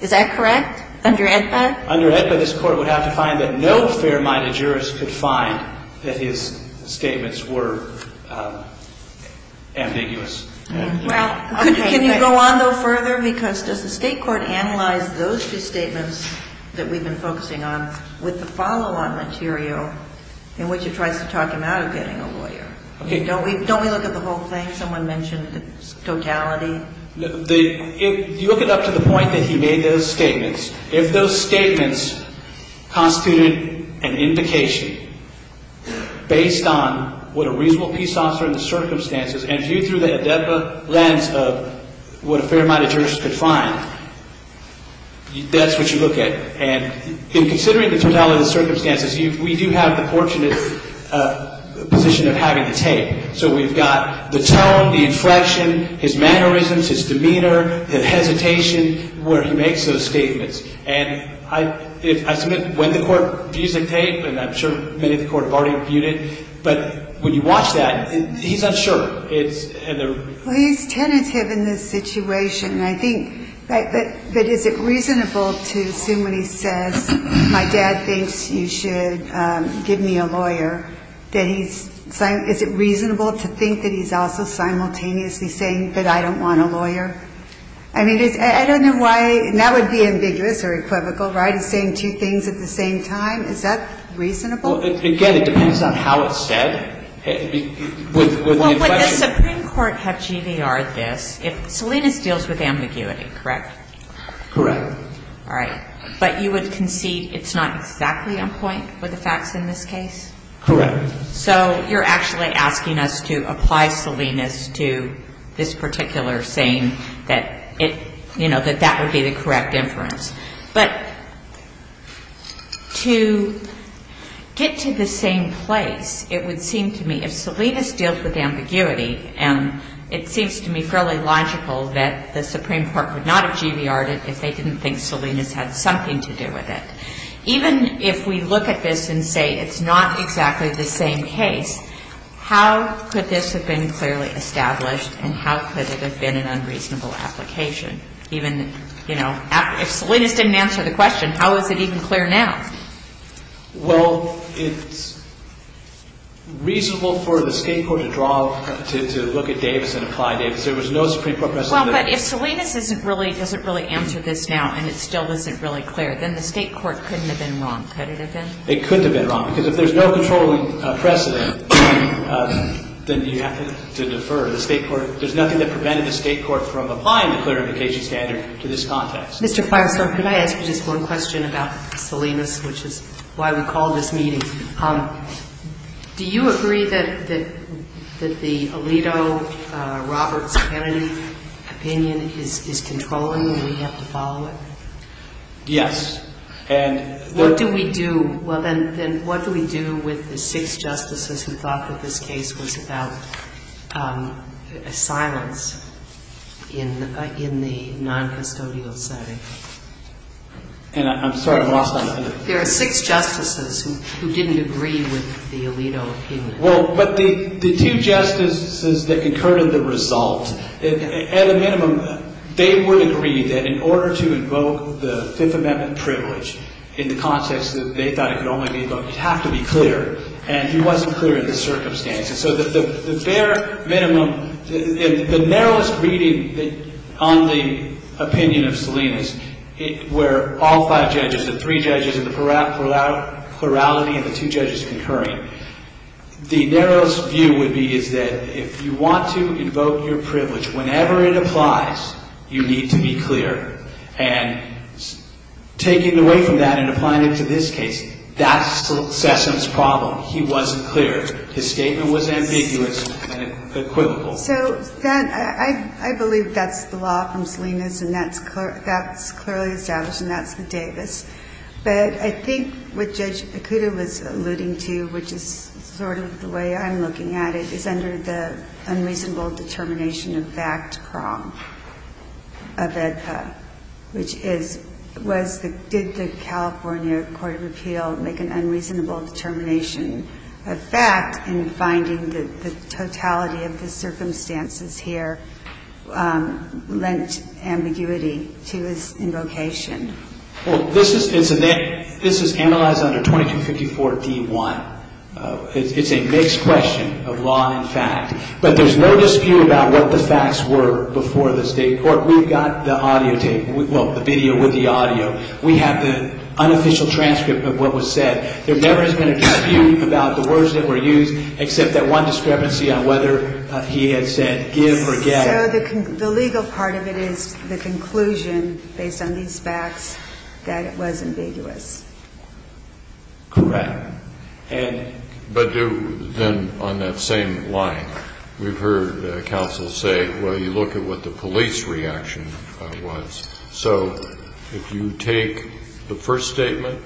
Is that correct? Under AEDPA? Under AEDPA, this court would have to find that no fair-minded jurist could find that his statements were ambiguous. Well, okay. Can you go on, though, further? Because does the state court analyze those two statements that we've been focusing on with the follow-on material in which it tries to talk him out of getting a lawyer? Don't we look at the whole thing? Someone mentioned the totality. You look it up to the point that he made those statements. If those statements constituted an indication based on what a reasonable peace officer and viewed through the AEDPA lens of what a fair-minded jurist could find, that's what you look at. And in considering the totality of the circumstances, we do have the fortunate position of having the tape. So we've got the tone, the inflection, his mannerisms, his demeanor, the hesitation where he makes those statements. And I submit when the court views the tape, and I'm sure many of the court have already viewed it, but when you watch that, he's unsure. Well, he's tentative in this situation. And I think, but is it reasonable to assume when he says, my dad thinks you should give me a lawyer, that he's saying is it reasonable to think that he's also simultaneously saying that I don't want a lawyer? I mean, I don't know why. That would be ambiguous or equivocal, right, saying two things at the same time. Is that reasonable? Well, again, it depends on how it's said. Well, would the Supreme Court have GVR'd this if Salinas deals with ambiguity, correct? Correct. All right. But you would concede it's not exactly on point with the facts in this case? Correct. So you're actually asking us to apply Salinas to this particular saying that it, you know, that that would be the correct inference. But to get to the same place, it would seem to me if Salinas deals with ambiguity, and it seems to me fairly logical that the Supreme Court would not have GVR'd it if they didn't think Salinas had something to do with it. Even if we look at this and say it's not exactly the same case, how could this have been clearly established, and how could it have been an unreasonable application? Even, you know, if Salinas didn't answer the question, how is it even clear now? Well, it's reasonable for the State court to draw, to look at Davis and apply Davis. There was no Supreme Court precedent. Well, but if Salinas doesn't really answer this now and it still isn't really clear, then the State court couldn't have been wrong, could it have been? It couldn't have been wrong, because if there's no controlling precedent, then you have to defer the State court. So there's nothing that prevented the State court from applying the clarification standard to this context. Mr. Feinstein, could I ask you just one question about Salinas, which is why we called this meeting? Do you agree that the Alito, Roberts, Kennedy opinion is controlling and we have to follow it? Yes. What do we do? Well, then what do we do with the six justices who thought that this case was about silence in the noncustodial setting? And I'm sorry, I'm lost on that. There are six justices who didn't agree with the Alito opinion. Well, but the two justices that concurred on the result, at a minimum, they would agree that in order to invoke the Fifth Amendment privilege in the context that they thought it could only be invoked, it had to be clear, and it wasn't clear in the circumstances. So the bare minimum, the narrowest reading on the opinion of Salinas, where all five judges, the three judges in the plurality and the two judges concurring, the narrowest view would be is that if you want to invoke your privilege whenever it applies, you need to be clear. And taking away from that and applying it to this case, that's Sessom's problem. He wasn't clear. His statement was ambiguous and equivocal. So then I believe that's the law from Salinas and that's clearly established and that's the Davis. But I think what Judge Ikuda was alluding to, which is sort of the way I'm looking at it, is under the unreasonable determination of fact prong of AEDPA, which is was the – did the California Court of Appeal make an unreasonable determination of fact in finding that the totality of the circumstances here lent ambiguity to his invocation? Well, this is – it's a – this is analyzed under 2254d-1. It's a mixed question of law and fact. But there's no dispute about what the facts were before the state court. We've got the audio tape – well, the video with the audio. We have the unofficial transcript of what was said. There never has been a dispute about the words that were used except that one discrepancy on whether he had said give or get. So the legal part of it is the conclusion based on these facts that it was ambiguous. Correct. And – But do – then on that same line, we've heard counsel say, well, you look at what the police reaction was. So if you take the first statement,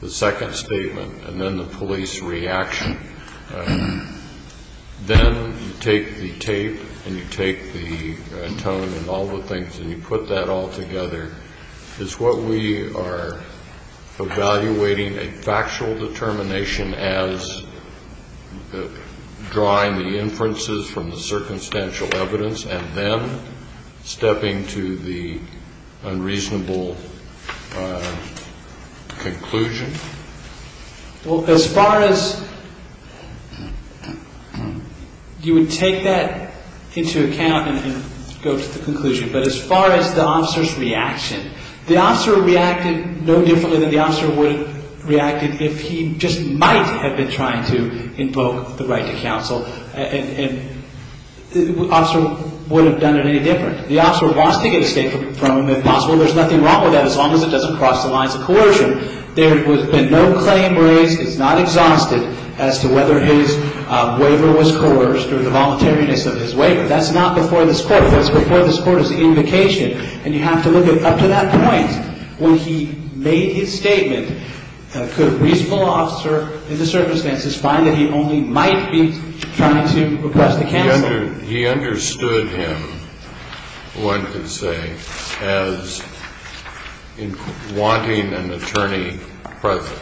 the second statement, and then the police reaction, then you take the tape and you take the tone and all the things and you put that all together, is what we are evaluating a factual determination as drawing the inferences from the circumstantial evidence and then stepping to the unreasonable conclusion? Well, as far as – you would take that into account and go to the conclusion. But as far as the officer's reaction, the officer reacted no differently than the officer would have reacted if he just might have been trying to invoke the right to counsel. And the officer would have done it any different. The officer wants to get escape from him if possible. There's nothing wrong with that as long as it doesn't cross the lines of coercion. There has been no claim raised. It's not exhausted as to whether his waiver was coerced or the voluntariness of his waiver. That's not before this Court. That's before this Court's invocation. And you have to look up to that point. When he made his statement, could a reasonable officer in the circumstances find that he only might be trying to request the counsel? He understood him, one could say, as wanting an attorney present.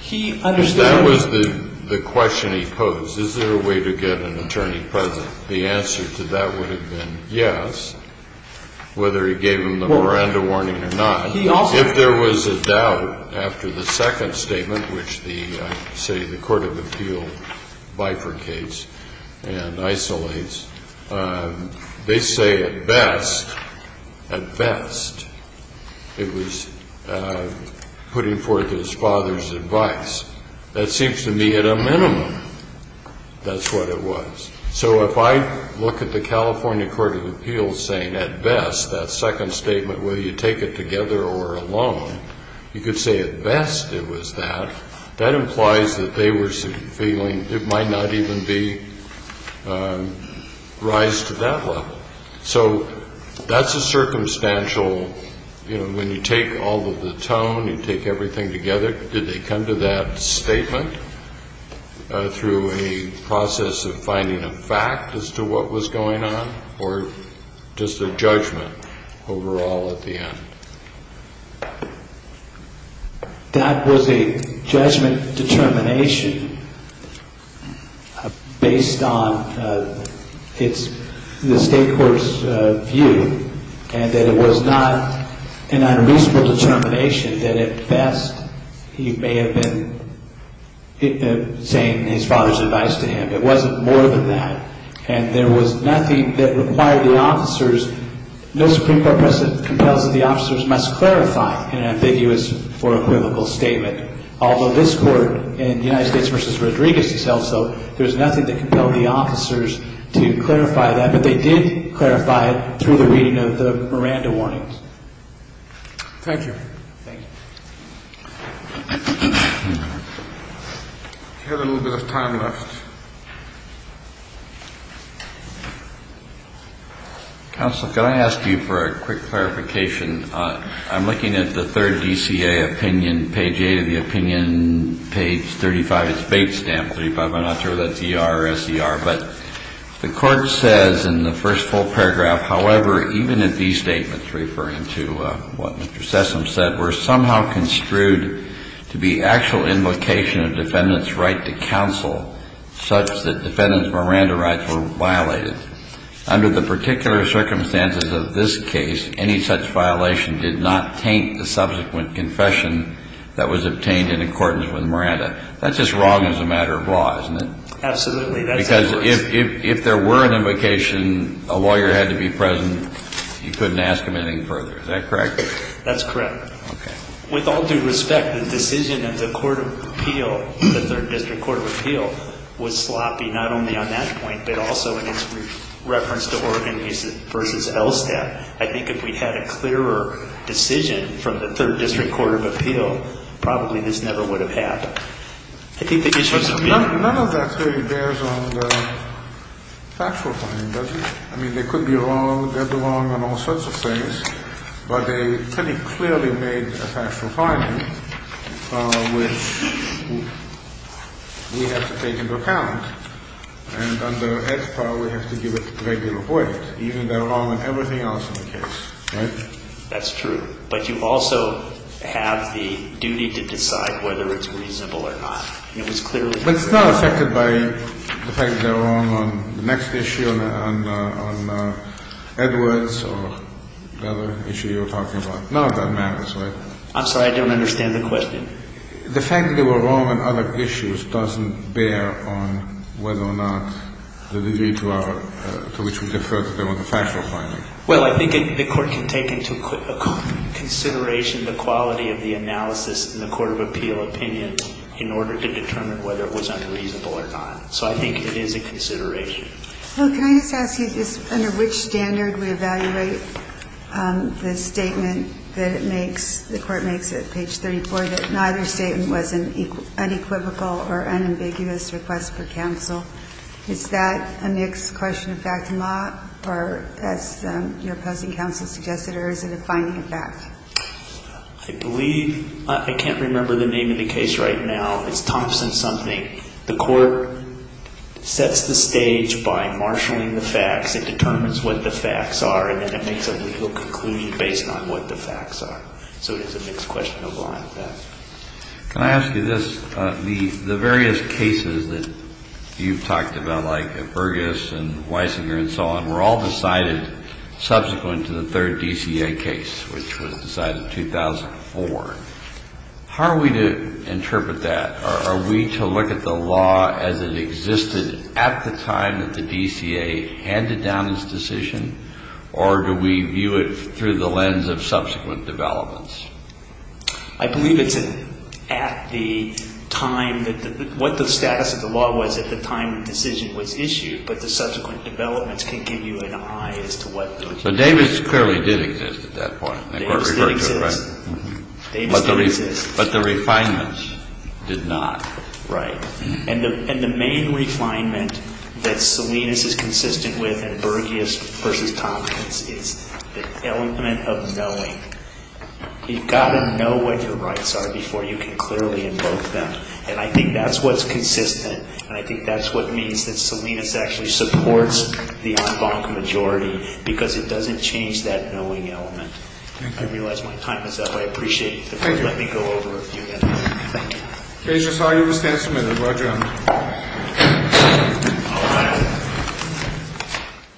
He understood him. If that was the question he posed, is there a way to get an attorney present, the answer to that would have been yes, whether he gave him the Miranda warning or not. If there was a doubt after the second statement, which the Court of Appeal bifurcates and isolates, they say at best, at best, it was putting forth his father's advice. That seems to me at a minimum that's what it was. So if I look at the California Court of Appeals saying at best, that second statement, whether you take it together or alone, you could say at best it was that. That implies that they were feeling it might not even be rise to that level. So that's a circumstantial, you know, when you take all of the tone, you take everything together, did they come to that statement through a process of finding a fact as to what was going on or just a judgment overall at the end? That was a judgment determination based on the state court's view and that it was not an unreasonable determination that at best he may have been saying his father's advice to him. It wasn't more than that. And there was nothing that required the officers, no Supreme Court precedent compels that the officers must clarify an ambiguous or equivocal statement, although this Court in United States v. Rodriguez has held so. There's nothing that compelled the officers to clarify that. But they did clarify it through the reading of the Miranda warnings. Thank you. Thank you. We have a little bit of time left. Counsel, can I ask you for a quick clarification? I'm looking at the third DCA opinion, page 8 of the opinion, page 35, it's Bates Stamp, 35, I'm not sure if that's E.R. or S.E.R. But the Court says in the first full paragraph, however, even if these statements referring to what Mr. Sessom said were somehow construed to be actual invocation of defendant's right to counsel, such that defendant's Miranda rights were violated. Under the particular circumstances of this case, any such violation did not taint the subsequent confession that was obtained in accordance with Miranda. That's just wrong as a matter of law, isn't it? Absolutely. Because if there were an invocation, a lawyer had to be present, you couldn't ask him anything further. Is that correct? That's correct. Okay. With all due respect, the decision of the Court of Appeal, the Third District Court of Appeal, was sloppy, not only on that point, but also in its reference to Oregon v. LSTAT. I think if we had a clearer decision from the Third District Court of Appeal, probably this never would have happened. I think the issues of being ‑‑ None of that clearly bears on the factual finding, does it? I mean, they could be wrong, dead wrong on all sorts of things, but they pretty clearly made a factual finding, which we have to take into account. And under HPAW, we have to give it regular weight, even though wrong on everything else in the case, right? That's true. But you also have the duty to decide whether it's reasonable or not. It was clearly ‑‑ But it's not affected by the fact that they're wrong on the next issue, on Edwards or the other issue you were talking about. None of that matters, right? I'm sorry. I don't understand the question. The fact that they were wrong on other issues doesn't bear on whether or not the degree to which we defer to them on the factual finding. Well, I think the Court can take into consideration the quality of the analysis in the Court of Appeal opinions in order to determine whether it was unreasonable or not. So I think it is a consideration. Well, can I just ask you this? Under which standard we evaluate the statement that it makes ‑‑ the Court makes it, page 34, that neither statement was an unequivocal or unambiguous request for counsel? Is that a mixed question of fact and law, or as your opposing counsel suggested, or is it a finding of fact? I believe ‑‑ I can't remember the name of the case right now. It's Thompson something. The Court sets the stage by marshalling the facts. It determines what the facts are, and then it makes a legal conclusion based on what the facts are. So it is a mixed question of law and fact. Can I ask you this? The various cases that you've talked about, like at Burgess and Weisinger and so on, were all decided subsequent to the third DCA case, which was decided in 2004. How are we to interpret that? Are we to look at the law as it existed at the time that the DCA handed down this decision, or do we view it through the lens of subsequent developments? I believe it's at the time ‑‑ what the status of the law was at the time the decision was issued, but the subsequent developments can give you an eye as to what the legitimacy is. But Davis clearly did exist at that point. Davis did exist. But the refinements did not. Right. And the main refinement that Salinas is consistent with at Burgess v. Tompkins is the element of knowing. You've got to know what your rights are before you can clearly invoke them. And I think that's what's consistent, and I think that's what means that Salinas actually supports the en banc majority, because it doesn't change that knowing element. I realize my time is up. I appreciate you letting me go over a few minutes. Thank you. Okay. I just thought you would stand submitted. Roger that. Thank you. All right.